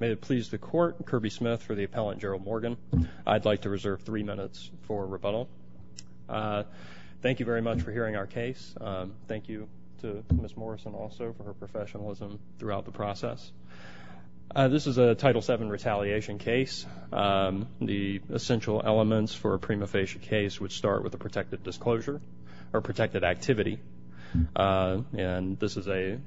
May it please the Court, Kirby Smith for the Appellant Gerald Morgan. I'd like to reserve three minutes for rebuttal. Thank you very much for hearing our case. Thank you to Ms. Morrison also for her professionalism throughout the process. This is a Title VII retaliation case. The essential elements for a prima facie case would start with a protected disclosure or protected activity and this is a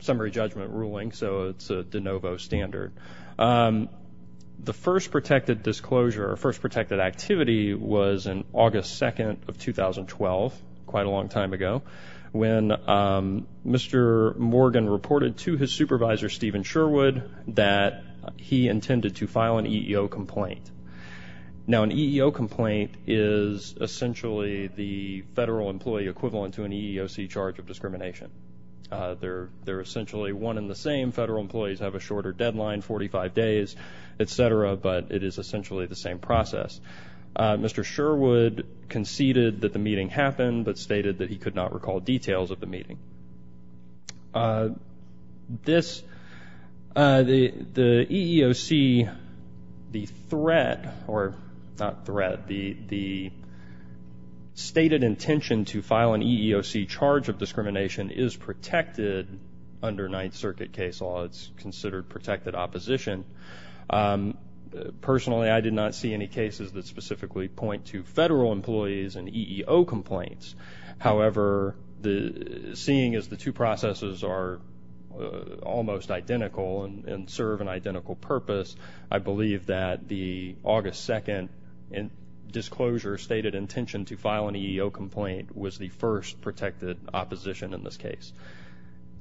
summary judgment ruling so it's a de novo standard. The first protected disclosure or first protected activity was in August 2nd of 2012, quite a long time ago, when Mr. Morgan reported to his supervisor Stephen Sherwood that he intended to file an EEO complaint. Now an EEO complaint is essentially the federal employee equivalent to an EEOC charge of discrimination. They're essentially one and the same. Federal employees have a shorter deadline, 45 days, etc. but it is essentially the same process. Mr. Sherwood conceded that the meeting happened but stated that he could not recall details of the meeting. This, the EEOC, the threat or not threat, the stated intention to file an EEOC charge of discrimination is protected under Ninth Circuit case law. It's considered protected opposition. Personally, I did not see any cases that are almost identical and serve an identical purpose. I believe that the August 2nd disclosure stated intention to file an EEO complaint was the first protected opposition in this case.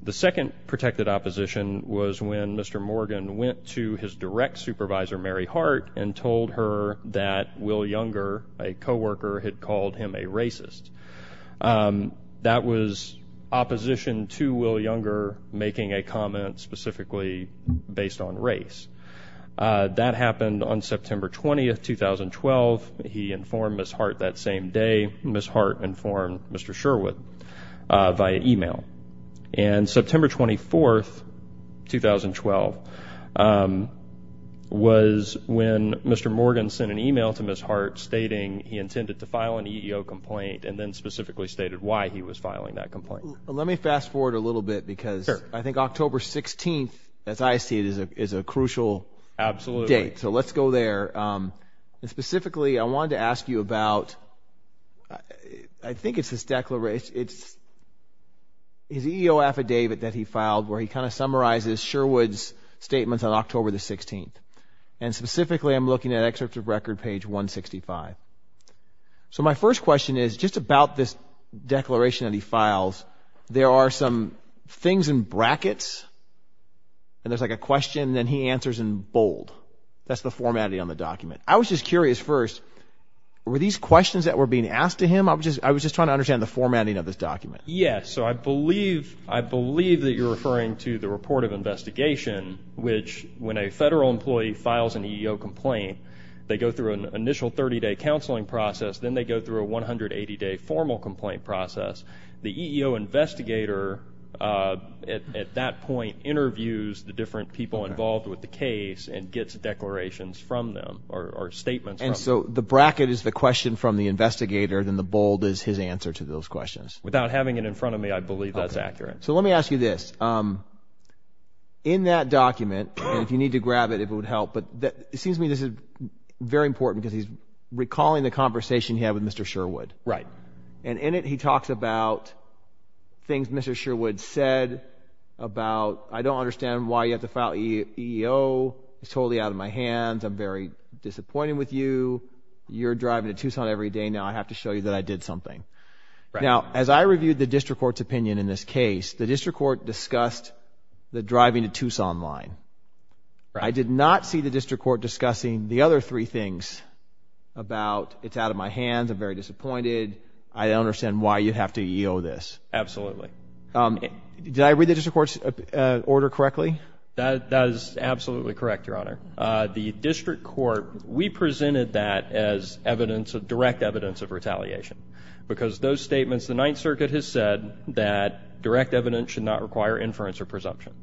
The second protected opposition was when Mr. Morgan went to his direct supervisor Mary Hart and told her that Will Younger, a position to Will Younger, making a comment specifically based on race. That happened on September 20th, 2012. He informed Ms. Hart that same day. Ms. Hart informed Mr. Sherwood via email. And September 24th, 2012, was when Mr. Morgan sent an email to Ms. Hart stating he intended to file an EEO complaint and specifically stated why he was filing that complaint. Let me fast forward a little bit because I think October 16th, as I see it, is a is a crucial date. So let's go there. Specifically, I wanted to ask you about, I think it's this declaration, it's his EEO affidavit that he filed where he kind of summarizes Sherwood's statements on October the 16th. And specifically, I'm looking at this declaration that he files, there are some things in brackets and there's like a question then he answers in bold. That's the formatting on the document. I was just curious first, were these questions that were being asked to him? I was just I was just trying to understand the formatting of this document. Yes, so I believe, I believe that you're referring to the report of investigation, which when a federal employee files an EEO complaint, they go through an initial 30 day counseling process, then they go through a 180 day formal complaint process. The EEO investigator at that point interviews the different people involved with the case and gets declarations from them or statements. And so the bracket is the question from the investigator, then the bold is his answer to those questions. Without having it in front of me, I believe that's accurate. So let me ask you this, in that document, and if you need to grab it if would help, but that it seems to me this is very important because he's recalling the conversation he had with Mr. Sherwood. Right. And in it he talks about things Mr. Sherwood said about, I don't understand why you have to file EEO, it's totally out of my hands, I'm very disappointed with you, you're driving to Tucson every day, now I have to show you that I did something. Right. Now as I reviewed the district court's opinion in this case, the district court discussed the driving to Tucson line. I did not see the district court discussing the other three things about it's out of my hands, I'm very disappointed, I don't understand why you have to EEO this. Absolutely. Did I read the district court's order correctly? That is absolutely correct, your honor. The district court, we presented that as evidence of direct evidence of retaliation because those statements the Ninth Circuit has said that direct evidence should not require inference or presumption.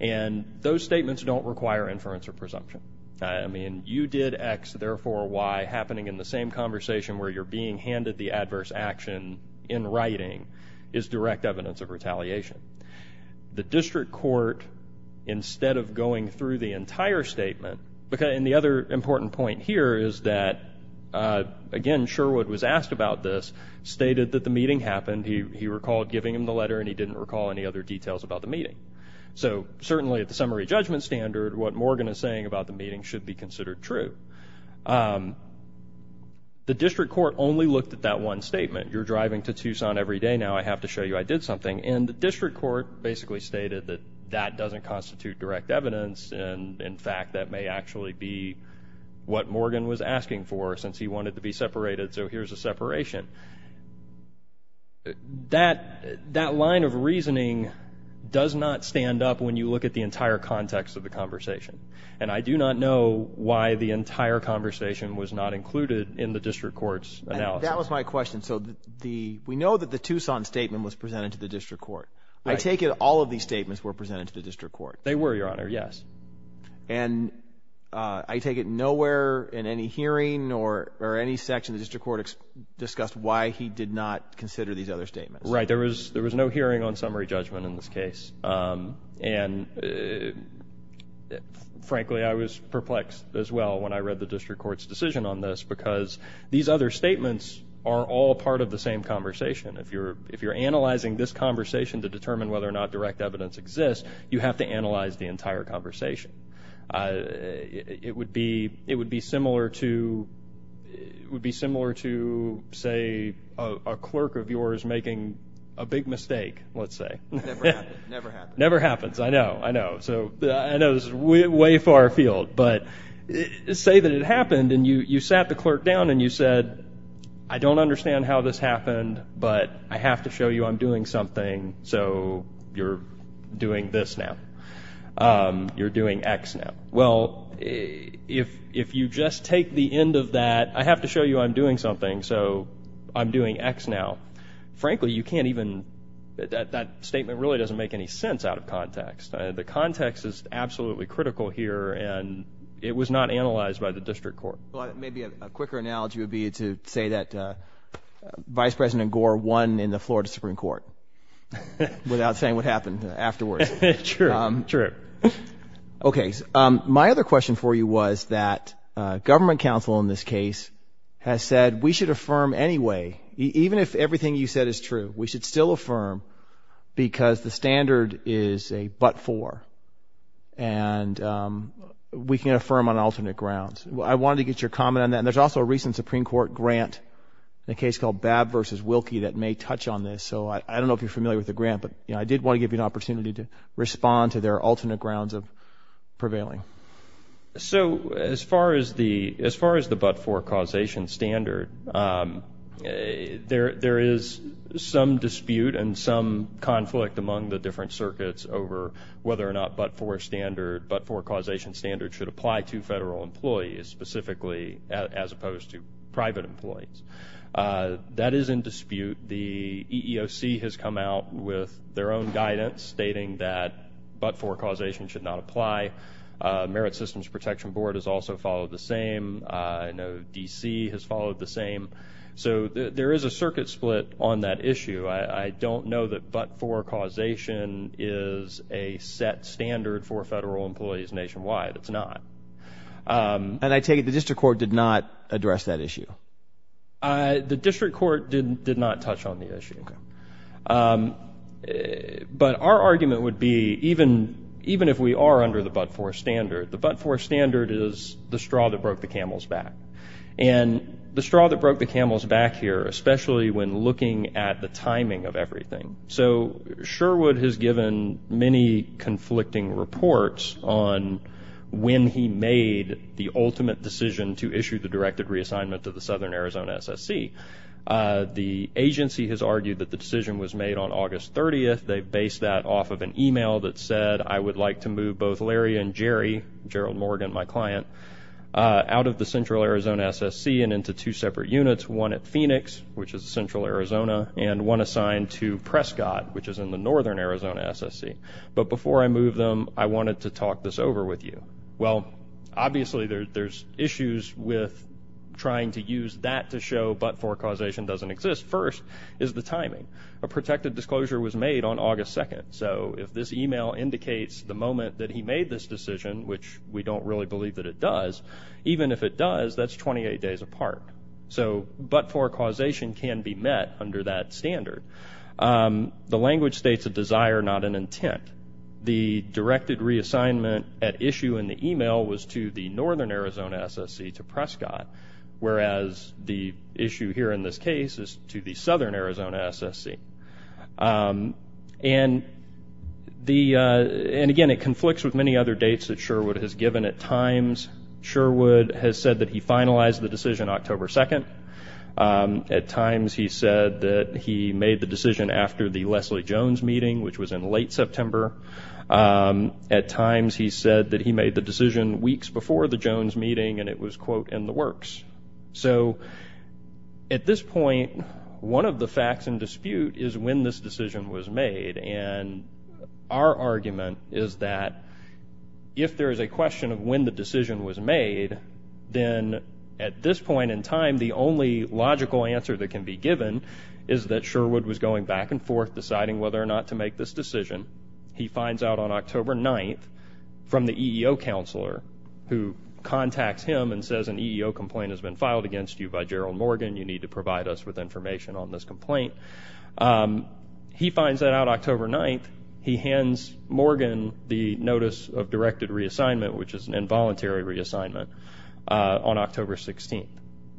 And those statements don't require inference or presumption. I mean, you did X, therefore Y, happening in the same conversation where you're being handed the adverse action in writing is direct evidence of retaliation. The district court, instead of going through the entire statement, and the other important point here is that, again, Sherwood was asked about this, stated that the meeting happened, he recalled giving him the letter and he was asked about the meeting. So, certainly at the summary judgment standard, what Morgan is saying about the meeting should be considered true. The district court only looked at that one statement, you're driving to Tucson every day now, I have to show you I did something, and the district court basically stated that that doesn't constitute direct evidence and, in fact, that may actually be what Morgan was asking for since he wanted to be separated, so here's a separation. That line of reasoning does not stand up when you look at the entire context of the conversation, and I do not know why the entire conversation was not included in the district court's analysis. That was my question. So, we know that the Tucson statement was presented to the district court. I take it all of these statements were presented to the district court. They were, Your Honor, yes. And I take it nowhere in any hearing or any section of the district court discussed the why he did not consider these other statements. Right, there was no hearing on summary judgment in this case, and, frankly, I was perplexed as well when I read the district court's decision on this because these other statements are all part of the same conversation. If you're analyzing this conversation to determine whether or not direct evidence exists, you have to analyze the entire conversation. So, let's say a clerk of yours making a big mistake, let's say. Never happens. Never happens. I know, I know. So, I know this is way far afield, but say that it happened and you sat the clerk down and you said, I don't understand how this happened, but I have to show you I'm doing something, so you're doing this now. You're doing X now. Well, if you just take the end of that, I have to show you I'm doing something, so I'm doing X now. Frankly, you can't even, that statement really doesn't make any sense out of context. The context is absolutely critical here, and it was not analyzed by the district court. Maybe a quicker analogy would be to say that Vice President Gore won in the Florida Supreme Court without saying what happened afterwards. Sure, sure. Okay, my other question for you was that government counsel in this case has said we should affirm anyway, even if everything you said is true, we should still affirm because the standard is a but-for, and we can affirm on alternate grounds. I wanted to get your comment on that, and there's also a recent Supreme Court grant in a case called Babb v. Wilkie that may touch on this, so I don't know if you're familiar with the grant, but I did want to give you an opportunity to respond to their alternate grounds of prevailing. So as far as the but-for causation standard, there is some dispute and some conflict among the different circuits over whether or not but-for standard, but-for causation standard should apply to federal employees, specifically as opposed to private employees. That is in dispute. The EEOC has come out with their own guidance stating that but-for causation should not apply. Merit Systems Protection Board has also followed the same. I know DC has followed the same. So there is a circuit split on that issue. I don't know that but-for causation is a set standard for federal employees nationwide. It's not. And I take it the district court did not address that issue. The district court did not touch on the issue. But our argument would be even if we are under the but-for standard, the but-for standard is the straw that broke the camel's back. And the straw that broke the camel's back here, especially when looking at the timing of everything. So Sherwood has given many conflicting reports on when he made the ultimate decision to issue the directed reassignment to the EEOC. The EEOC has argued that the decision was made on August 30th. They based that off of an email that said, I would like to move both Larry and Jerry, Gerald Morgan, my client, out of the Central Arizona SSC and into two separate units, one at Phoenix, which is Central Arizona, and one assigned to Prescott, which is in the Northern Arizona SSC. But before I move them, I wanted to talk this over with you. Well, obviously there's issues with trying to use that to show but-for causation doesn't exist. First is the timing. A protected disclosure was made on August 2nd. So if this email indicates the moment that he made this decision, which we don't really believe that it does, even if it does, that's 28 days apart. So but-for causation can be met under that standard. The language states a desire, not an intent. The directed reassignment at issue in the email was to the Northern Arizona SSC to the issue here in this case is to the Southern Arizona SSC. And again, it conflicts with many other dates that Sherwood has given at times. Sherwood has said that he finalized the decision October 2nd. At times he said that he made the decision after the Leslie Jones meeting, which was in late September. At times he said that he made the decision weeks before the Jones meeting and it was, quote, in the works. So at this point, one of the facts in dispute is when this decision was made. And our argument is that if there is a question of when the decision was made, then at this point in time, the only logical answer that can be given is that Sherwood was going back and forth deciding whether or not to make this decision. He finds out on October 9th from the EEO counselor who contacts him and says an EEO complaint has been filed against you by Gerald Morgan. You need to provide us with information on this complaint. He finds that out October 9th. He hands Morgan the notice of directed reassignment, which is an involuntary reassignment, on October 16th.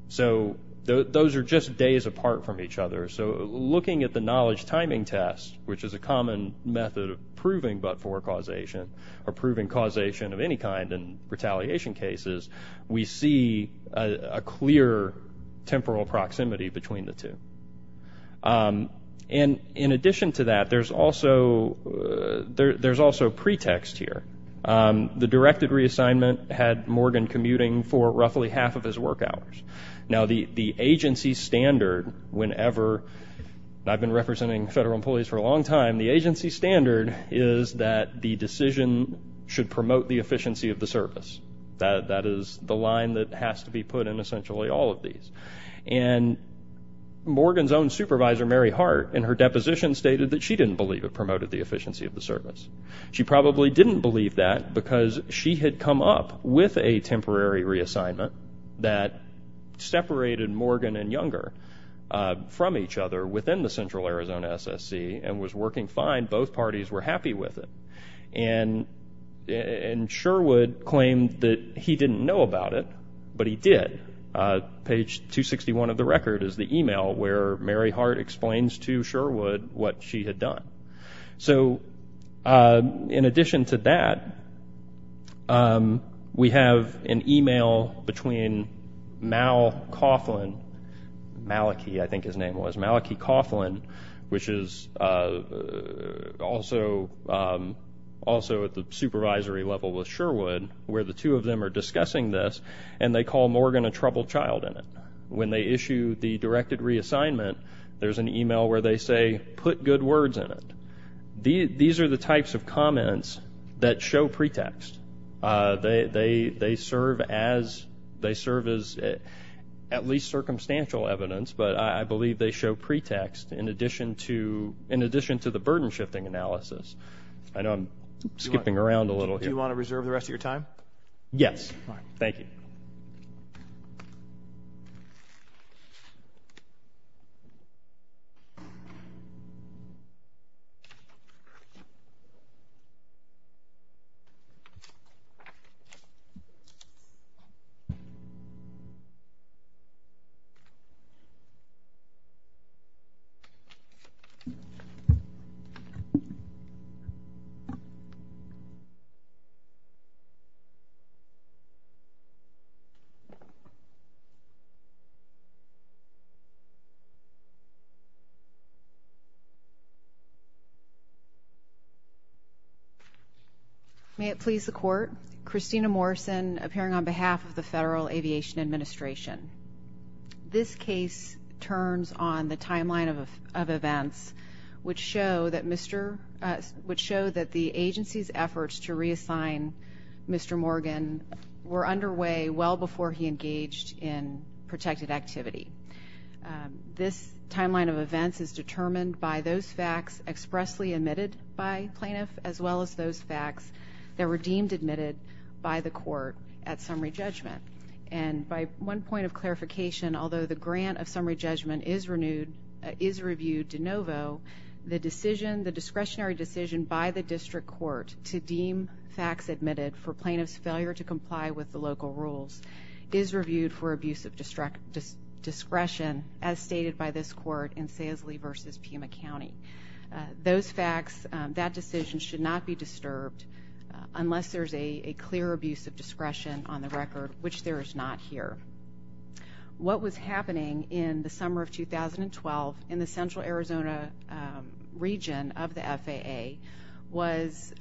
So those are just days apart from each other. So looking at the knowledge timing test, which is a common method of proving but-for causation or proving causation of any kind in retaliation cases, we see a clear temporal proximity between the two. And in addition to that, there's also pretext here. The directed reassignment had Morgan commuting for roughly half of his work hours. Now the agency standard, whenever I've been representing federal employees for a long time, the agency standard is that the decision should promote the efficiency of the service. That is the line that has to be put in essentially all of these. And Morgan's own supervisor, Mary Hart, in her deposition stated that she didn't believe it promoted the efficiency of the service. She probably didn't believe that because she had come up with a temporary reassignment that separated Morgan and Sherwood, and it was working fine. Both parties were happy with it. And Sherwood claimed that he didn't know about it, but he did. Page 261 of the record is the e-mail where Mary Hart explains to Sherwood what she had done. So in addition to that, we have an e-mail between Mal Coughlin, Malachy, I think his name was, Malachy Coughlin, which is also at the supervisory level with Sherwood, where the two of them are discussing this, and they call Morgan a troubled child in it. When they issue the directed reassignment, there's an e-mail where they say, put good words in it. These are the types of comments that show pretext. They serve as at least circumstantial evidence, but I believe they show pretext in addition to the burden-shifting analysis. I know I'm skipping around a little here. Do you want to reserve the rest of your time? Yes. All right. Thank you. May it please the Court, Christina Morrison appearing on behalf of the Federal Aviation Administration. This case turns on the timeline of events which show that the agency's efforts to reassign Mr. Morgan were underway well before he engaged in protected activity. This timeline of events is determined by those facts expressly admitted by plaintiff as well as those facts that were deemed admitted by the court at summary judgment. And by one point of clarification, although the grant of to deem facts admitted for plaintiff's failure to comply with the local rules is reviewed for abuse of discretion as stated by this court in Saisley v. Pima County. Those facts, that decision should not be disturbed unless there's a clear abuse of discretion on the record, which there is not here. What was happening in the summer of 2012 in the Central Arizona region of the FAA was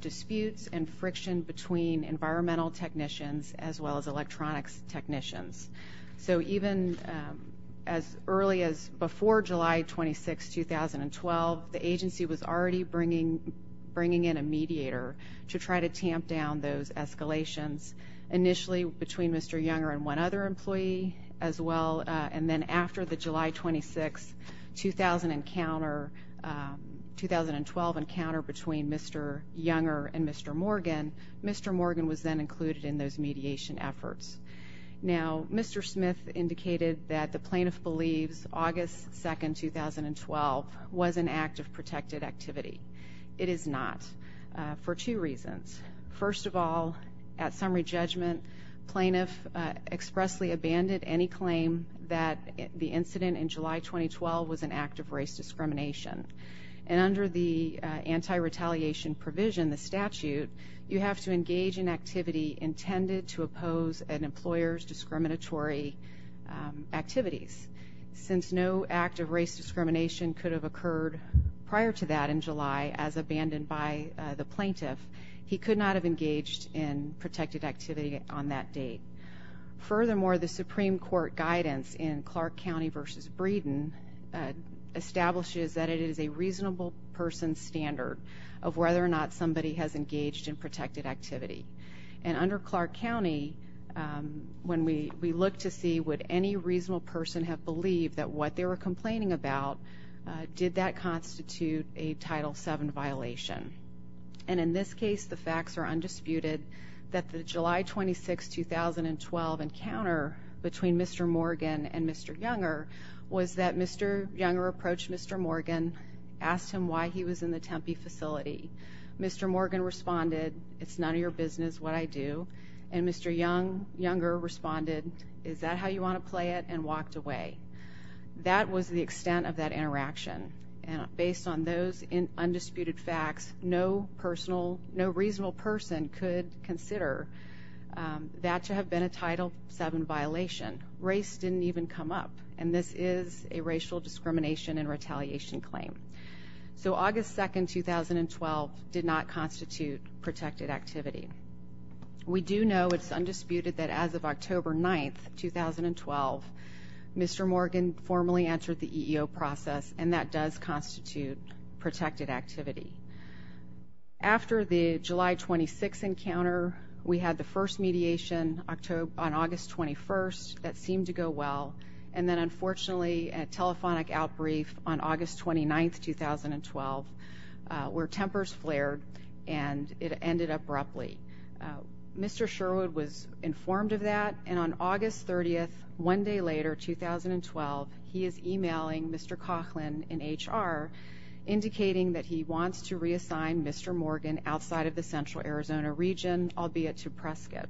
disputes and friction between environmental technicians as well as electronics technicians. So even as early as before July 26, 2012, the agency was already bringing in a mediator to try to tamp down those escalations initially between Mr. Younger and one other employee as well, and then after the July 26, 2012 encounter between Mr. Younger and Mr. Morgan, Mr. Morgan was then included in those mediation efforts. Now, Mr. Smith indicated that the plaintiff believes August 2, 2012 was an act of protected activity. It is not for two reasons. First of all, at summary judgment, plaintiff expressly abandoned any claim that the incident in July 2012 was an act of race discrimination. And under the anti-retaliation provision, the statute, you have to engage in activity intended to oppose an employer's discriminatory activities. Since no act of race discrimination could have occurred prior to that in July as abandoned by the plaintiff, he could not have engaged in protected activity on that date. Furthermore, the Supreme Court guidance in Clark County v. Breeden establishes that it is a reasonable person's standard of whether or not somebody has engaged in protected activity. And under Clark County, when we look to see would any reasonable person have believed that what they were are undisputed, that the July 26, 2012 encounter between Mr. Morgan and Mr. Younger was that Mr. Younger approached Mr. Morgan, asked him why he was in the Tempe facility. Mr. Morgan responded, it's none of your business what I do. And Mr. Younger responded, is that how you want to play it, and walked away. That was the extent of that interaction. And based on those undisputed facts, no reasonable person could consider that to have been a Title VII violation. Race didn't even come up. And this is a racial discrimination and retaliation claim. So August 2, 2012 did not constitute protected activity. We do know it's undisputed that as of October 9, 2012, Mr. Morgan formally entered the EEO process, and that does constitute protected activity. After the July 26 encounter, we had the first mediation on August 21st. That seemed to go well. And then, unfortunately, a telephonic outbrief on August 29, 2012, where tempers flared and it ended abruptly. Mr. Sherwood was informed of that, and on August 30, one day later, 2012, he is emailing Mr. Coughlin in HR, indicating that he wants to reassign Mr. Morgan outside of the Central Arizona region, albeit to Prescott.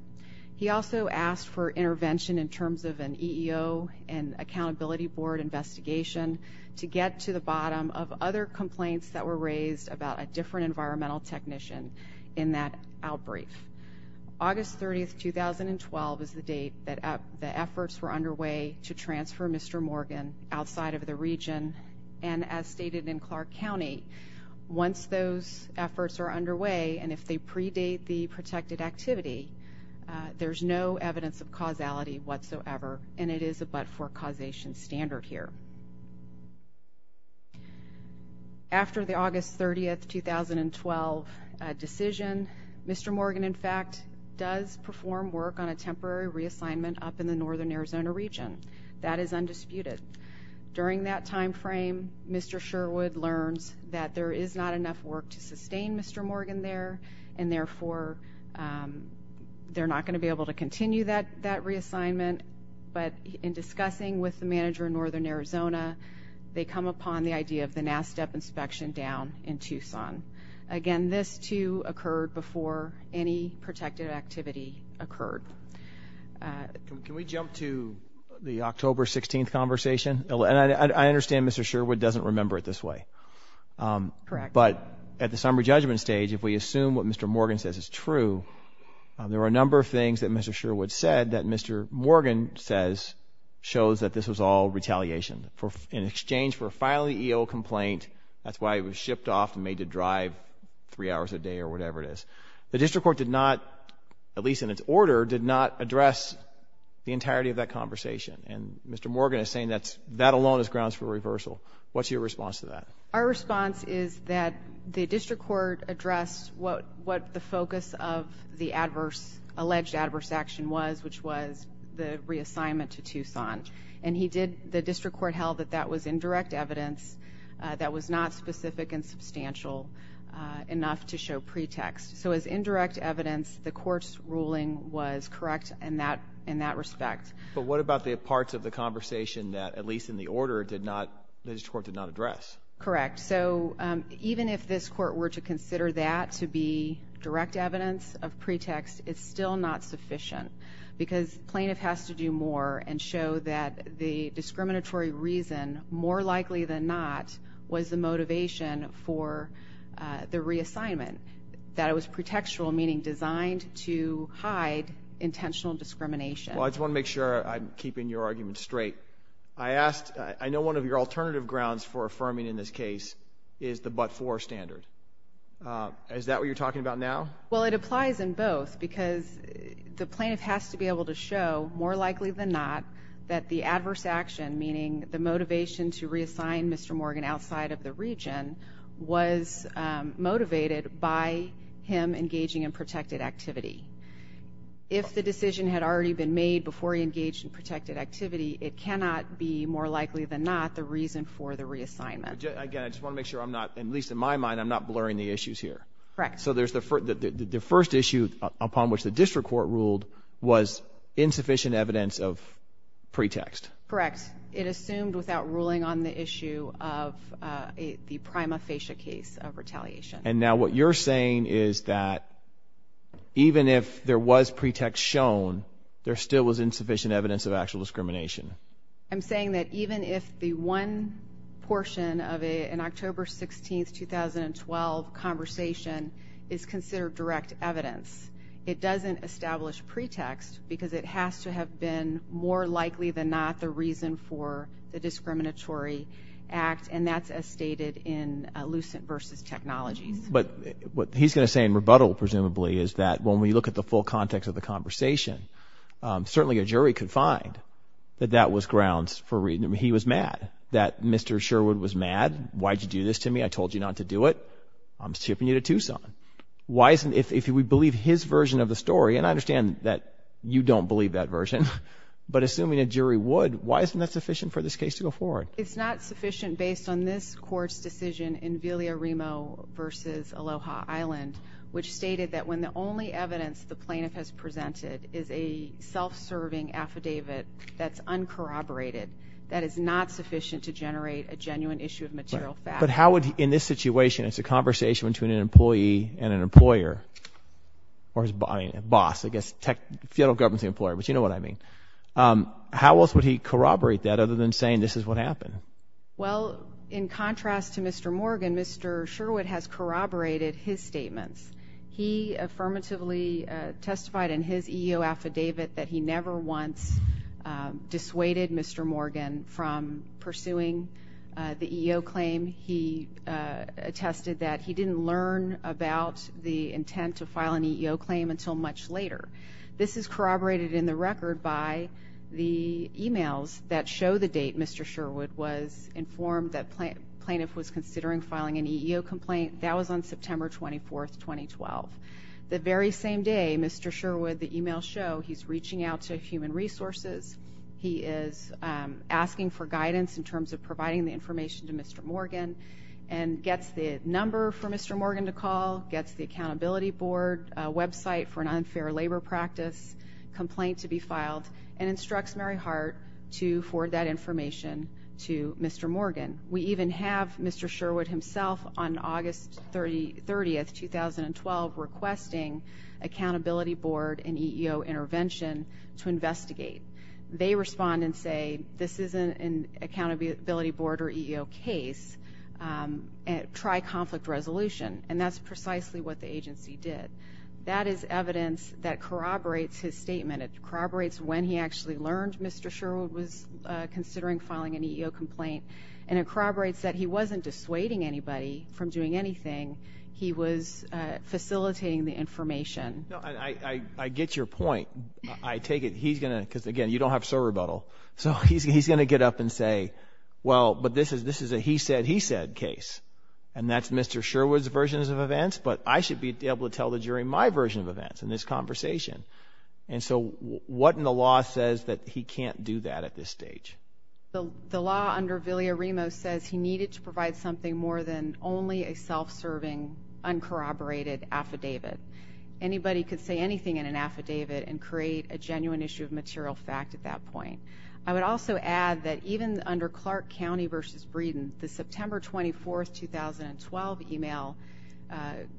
He also asked for intervention in terms of an EEO and accountability board investigation to get to the bottom of other complaints that were raised about a different environmental technician in that outbrief. August 30, 2012 is the date that the efforts were underway to transfer Mr. Morgan outside of the region. And as stated in Clark County, once those efforts are underway, and if they predate the protected activity, there's no evidence of causality whatsoever, and it is a but-for causation standard here. After the August 30, 2012 decision, Mr. Morgan, in fact, does perform work on a temporary reassignment up in the Northern Arizona region. That is undisputed. During that time frame, Mr. Sherwood learns that there is not enough work to sustain Mr. Morgan there, and therefore, they're not going to be able to continue that reassignment. But in discussing with the manager in Northern Arizona, they come upon the idea of the NASTEP inspection down in Tucson. Again, this, too, occurred before any protected activity occurred. Can we jump to the October 16th conversation? And I understand Mr. Sherwood doesn't remember it this way. But at the summary judgment stage, if we assume what Mr. Morgan says is true, there are a number of things that Mr. Sherwood said that Mr. Morgan says shows that this was all retaliation in exchange for a filing EO complaint. That's why it was shipped off and made to drive three hours a day or whatever it is. The district court did not, at least in its order, did not address the entirety of that conversation. And Mr. Morgan is saying that that alone is grounds for reversal. What's your response to that? Our response is that the district court addressed what the focus of the alleged adverse action was, which was the reassignment to Tucson. And the district court held that that was indirect evidence that was not specific and substantial enough to show pretext. So as indirect evidence, the court's ruling was correct in that respect. But what about the parts of the conversation that, at least in the order, the district court did not address? Correct. So even if this court were to consider that to be direct evidence of pretext, it's still not sufficient because plaintiff has to do more and show that the discriminatory reason, more likely than not, was the motivation for the reassignment, that it was pretextual, meaning designed to hide intentional discrimination. Well, I just want to make sure I'm keeping your argument straight. I know one of your alternative grounds for affirming in this case is the but-for standard. Is that what you're talking about now? Well, it applies in both because the plaintiff has to be able to show, more likely than not, that the adverse action, meaning the motivation to reassign Mr. Morgan outside of the region, was motivated by him engaging in protected activity. If the decision had already been made before he engaged in protected activity, it cannot be, more likely than not, the reason for the reassignment. Again, I just want to make sure I'm not, at least in my mind, I'm not blurring the issues here. Correct. So the first issue upon which the district court ruled was insufficient evidence of pretext. Correct. It assumed without ruling on the issue of the prima facie case of retaliation. And now what you're saying is that even if there was pretext shown, there still was insufficient evidence of actual discrimination. I'm saying that even if the one portion of an October 16, 2012, conversation is considered direct evidence, it doesn't establish pretext because it has to have been, more likely than not, the reason for the discriminatory act. And that's as stated in Lucent v. Technologies. But what he's going to say in rebuttal, presumably, is that when we look at the full context of the conversation, certainly a jury could find that that was grounds for reasoning. He was mad that Mr. Sherwood was mad. Why did you do this to me? I told you not to do it. I'm shipping you to Tucson. If we believe his version of the story, and I understand that you don't believe that version, but assuming a jury would, why isn't that sufficient for this case to go forward? It's not sufficient based on this court's decision in Villaremo v. Aloha Island, which stated that when the only evidence the plaintiff has presented is a self-serving affidavit that's uncorroborated, that is not sufficient to generate a genuine issue of material fact. But how would, in this situation, it's a conversation between an employee and an employer, or his boss, I guess, federal government's employer, but you know what I mean. How else would he corroborate that other than saying this is what happened? Well, in contrast to Mr. Morgan, Mr. Sherwood has corroborated his statements. He affirmatively testified in his EEO affidavit that he never once dissuaded Mr. Morgan from pursuing the EEO claim. He attested that he didn't learn about the intent to file an EEO claim until much later. This is corroborated in the record by the e-mails that show the date Mr. Sherwood was informed that the plaintiff was considering filing an EEO complaint. That was on September 24, 2012. The very same day, Mr. Sherwood, the e-mails show he's reaching out to Human Resources. He is asking for guidance in terms of providing the information to Mr. Morgan and gets the number for Mr. Morgan to call, gets the accountability board website for an unfair labor practice complaint to be filed, and instructs Mary Hart to forward that information to Mr. Morgan. We even have Mr. Sherwood himself on August 30, 2012, requesting accountability board and EEO intervention to investigate. They respond and say this isn't an accountability board or EEO case. Try conflict resolution, and that's precisely what the agency did. That is evidence that corroborates his statement. It corroborates when he actually learned Mr. Sherwood was considering filing an EEO complaint, and it corroborates that he wasn't dissuading anybody from doing anything. He was facilitating the information. I get your point. I take it he's going to, because, again, you don't have civil rebuttal. So he's going to get up and say, well, but this is a he said, he said case, and that's Mr. Sherwood's version of events, but I should be able to tell the jury my version of events in this conversation. And so what in the law says that he can't do that at this stage? The law under Villarimo says he needed to provide something more than only a self-serving, uncorroborated affidavit. Anybody could say anything in an affidavit and create a genuine issue of material fact at that point. I would also add that even under Clark County v. Breeden, the September 24, 2012 email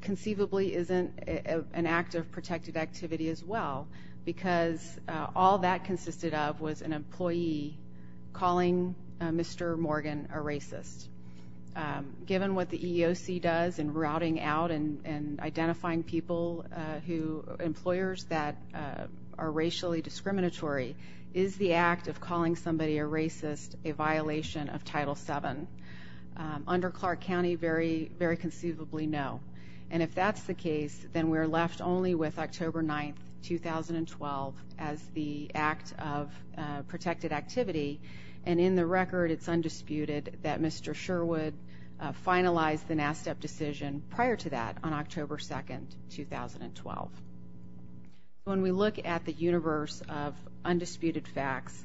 conceivably isn't an act of protective activity as well because all that consisted of was an employee calling Mr. Morgan a racist. Given what the EEOC does in routing out and identifying people who, employers that are racially discriminatory, is the act of calling somebody a racist a violation of Title VII? Under Clark County, very conceivably no. And if that's the case, then we're left only with October 9, 2012 as the act of protected activity, and in the record it's undisputed that Mr. Sherwood finalized the NASTEP decision prior to that on October 2, 2012. When we look at the universe of undisputed facts,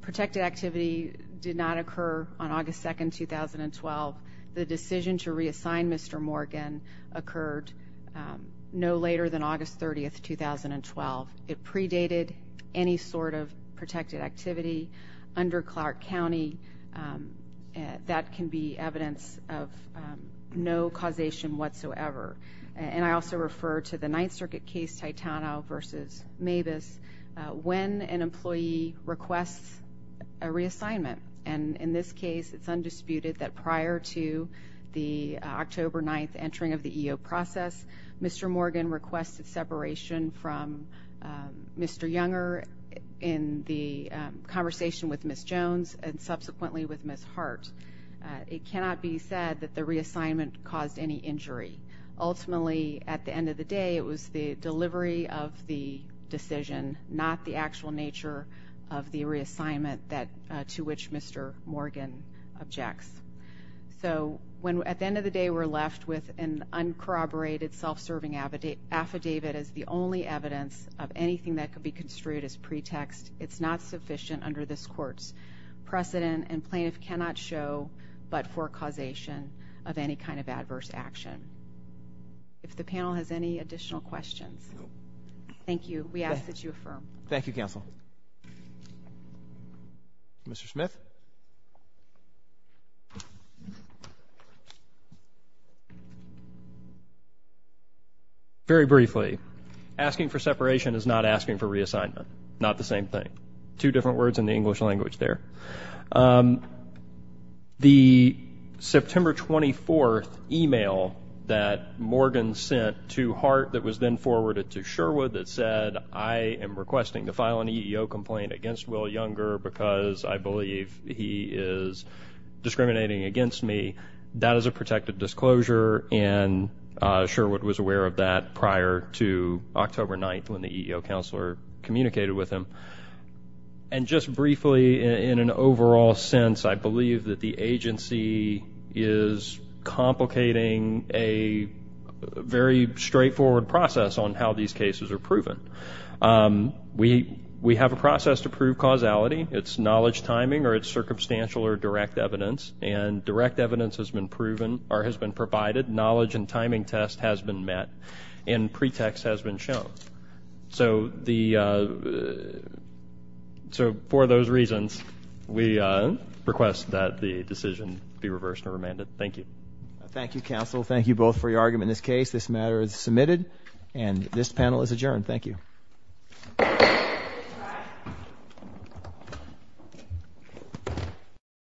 protected activity did not occur on August 2, 2012. The decision to reassign Mr. Morgan occurred no later than August 30, 2012. It predated any sort of protected activity under Clark County. That can be evidence of no causation whatsoever. And I also refer to the Ninth Circuit case, Titano v. Mabus. When an employee requests a reassignment, and in this case it's undisputed that prior to the October 9th entering of the EEOC process, Mr. Morgan requested separation from Mr. Younger in the conversation with Ms. Jones and subsequently with Ms. Hart. It cannot be said that the reassignment caused any injury. Ultimately, at the end of the day, it was the delivery of the decision, not the actual nature of the reassignment to which Mr. Morgan objects. So at the end of the day, we're left with an uncorroborated self-serving affidavit as the only evidence of anything that could be construed as pretext. It's not sufficient under this Court's precedent, and plaintiff cannot show but for causation of any kind of adverse action. If the panel has any additional questions. Thank you. We ask that you affirm. Thank you, counsel. Mr. Smith. Very briefly, asking for separation is not asking for reassignment. Not the same thing. Two different words in the English language there. The September 24th email that Morgan sent to Hart that was then forwarded to Sherwood that said, I am requesting to file an EEO complaint against Will Younger because I believe he is discriminating against me. That is a protected disclosure, and Sherwood was aware of that prior to October 9th when the EEO counselor communicated with him. And just briefly, in an overall sense, I believe that the agency is complicating a very straightforward process on how these cases are proven. We have a process to prove causality. It's knowledge timing or it's circumstantial or direct evidence, and direct evidence has been provided, knowledge and timing test has been met, and pretext has been shown. So for those reasons, we request that the decision be reversed or remanded. Thank you. Thank you, counsel. Thank you both for your argument in this case. This matter is submitted, and this panel is adjourned. Thank you.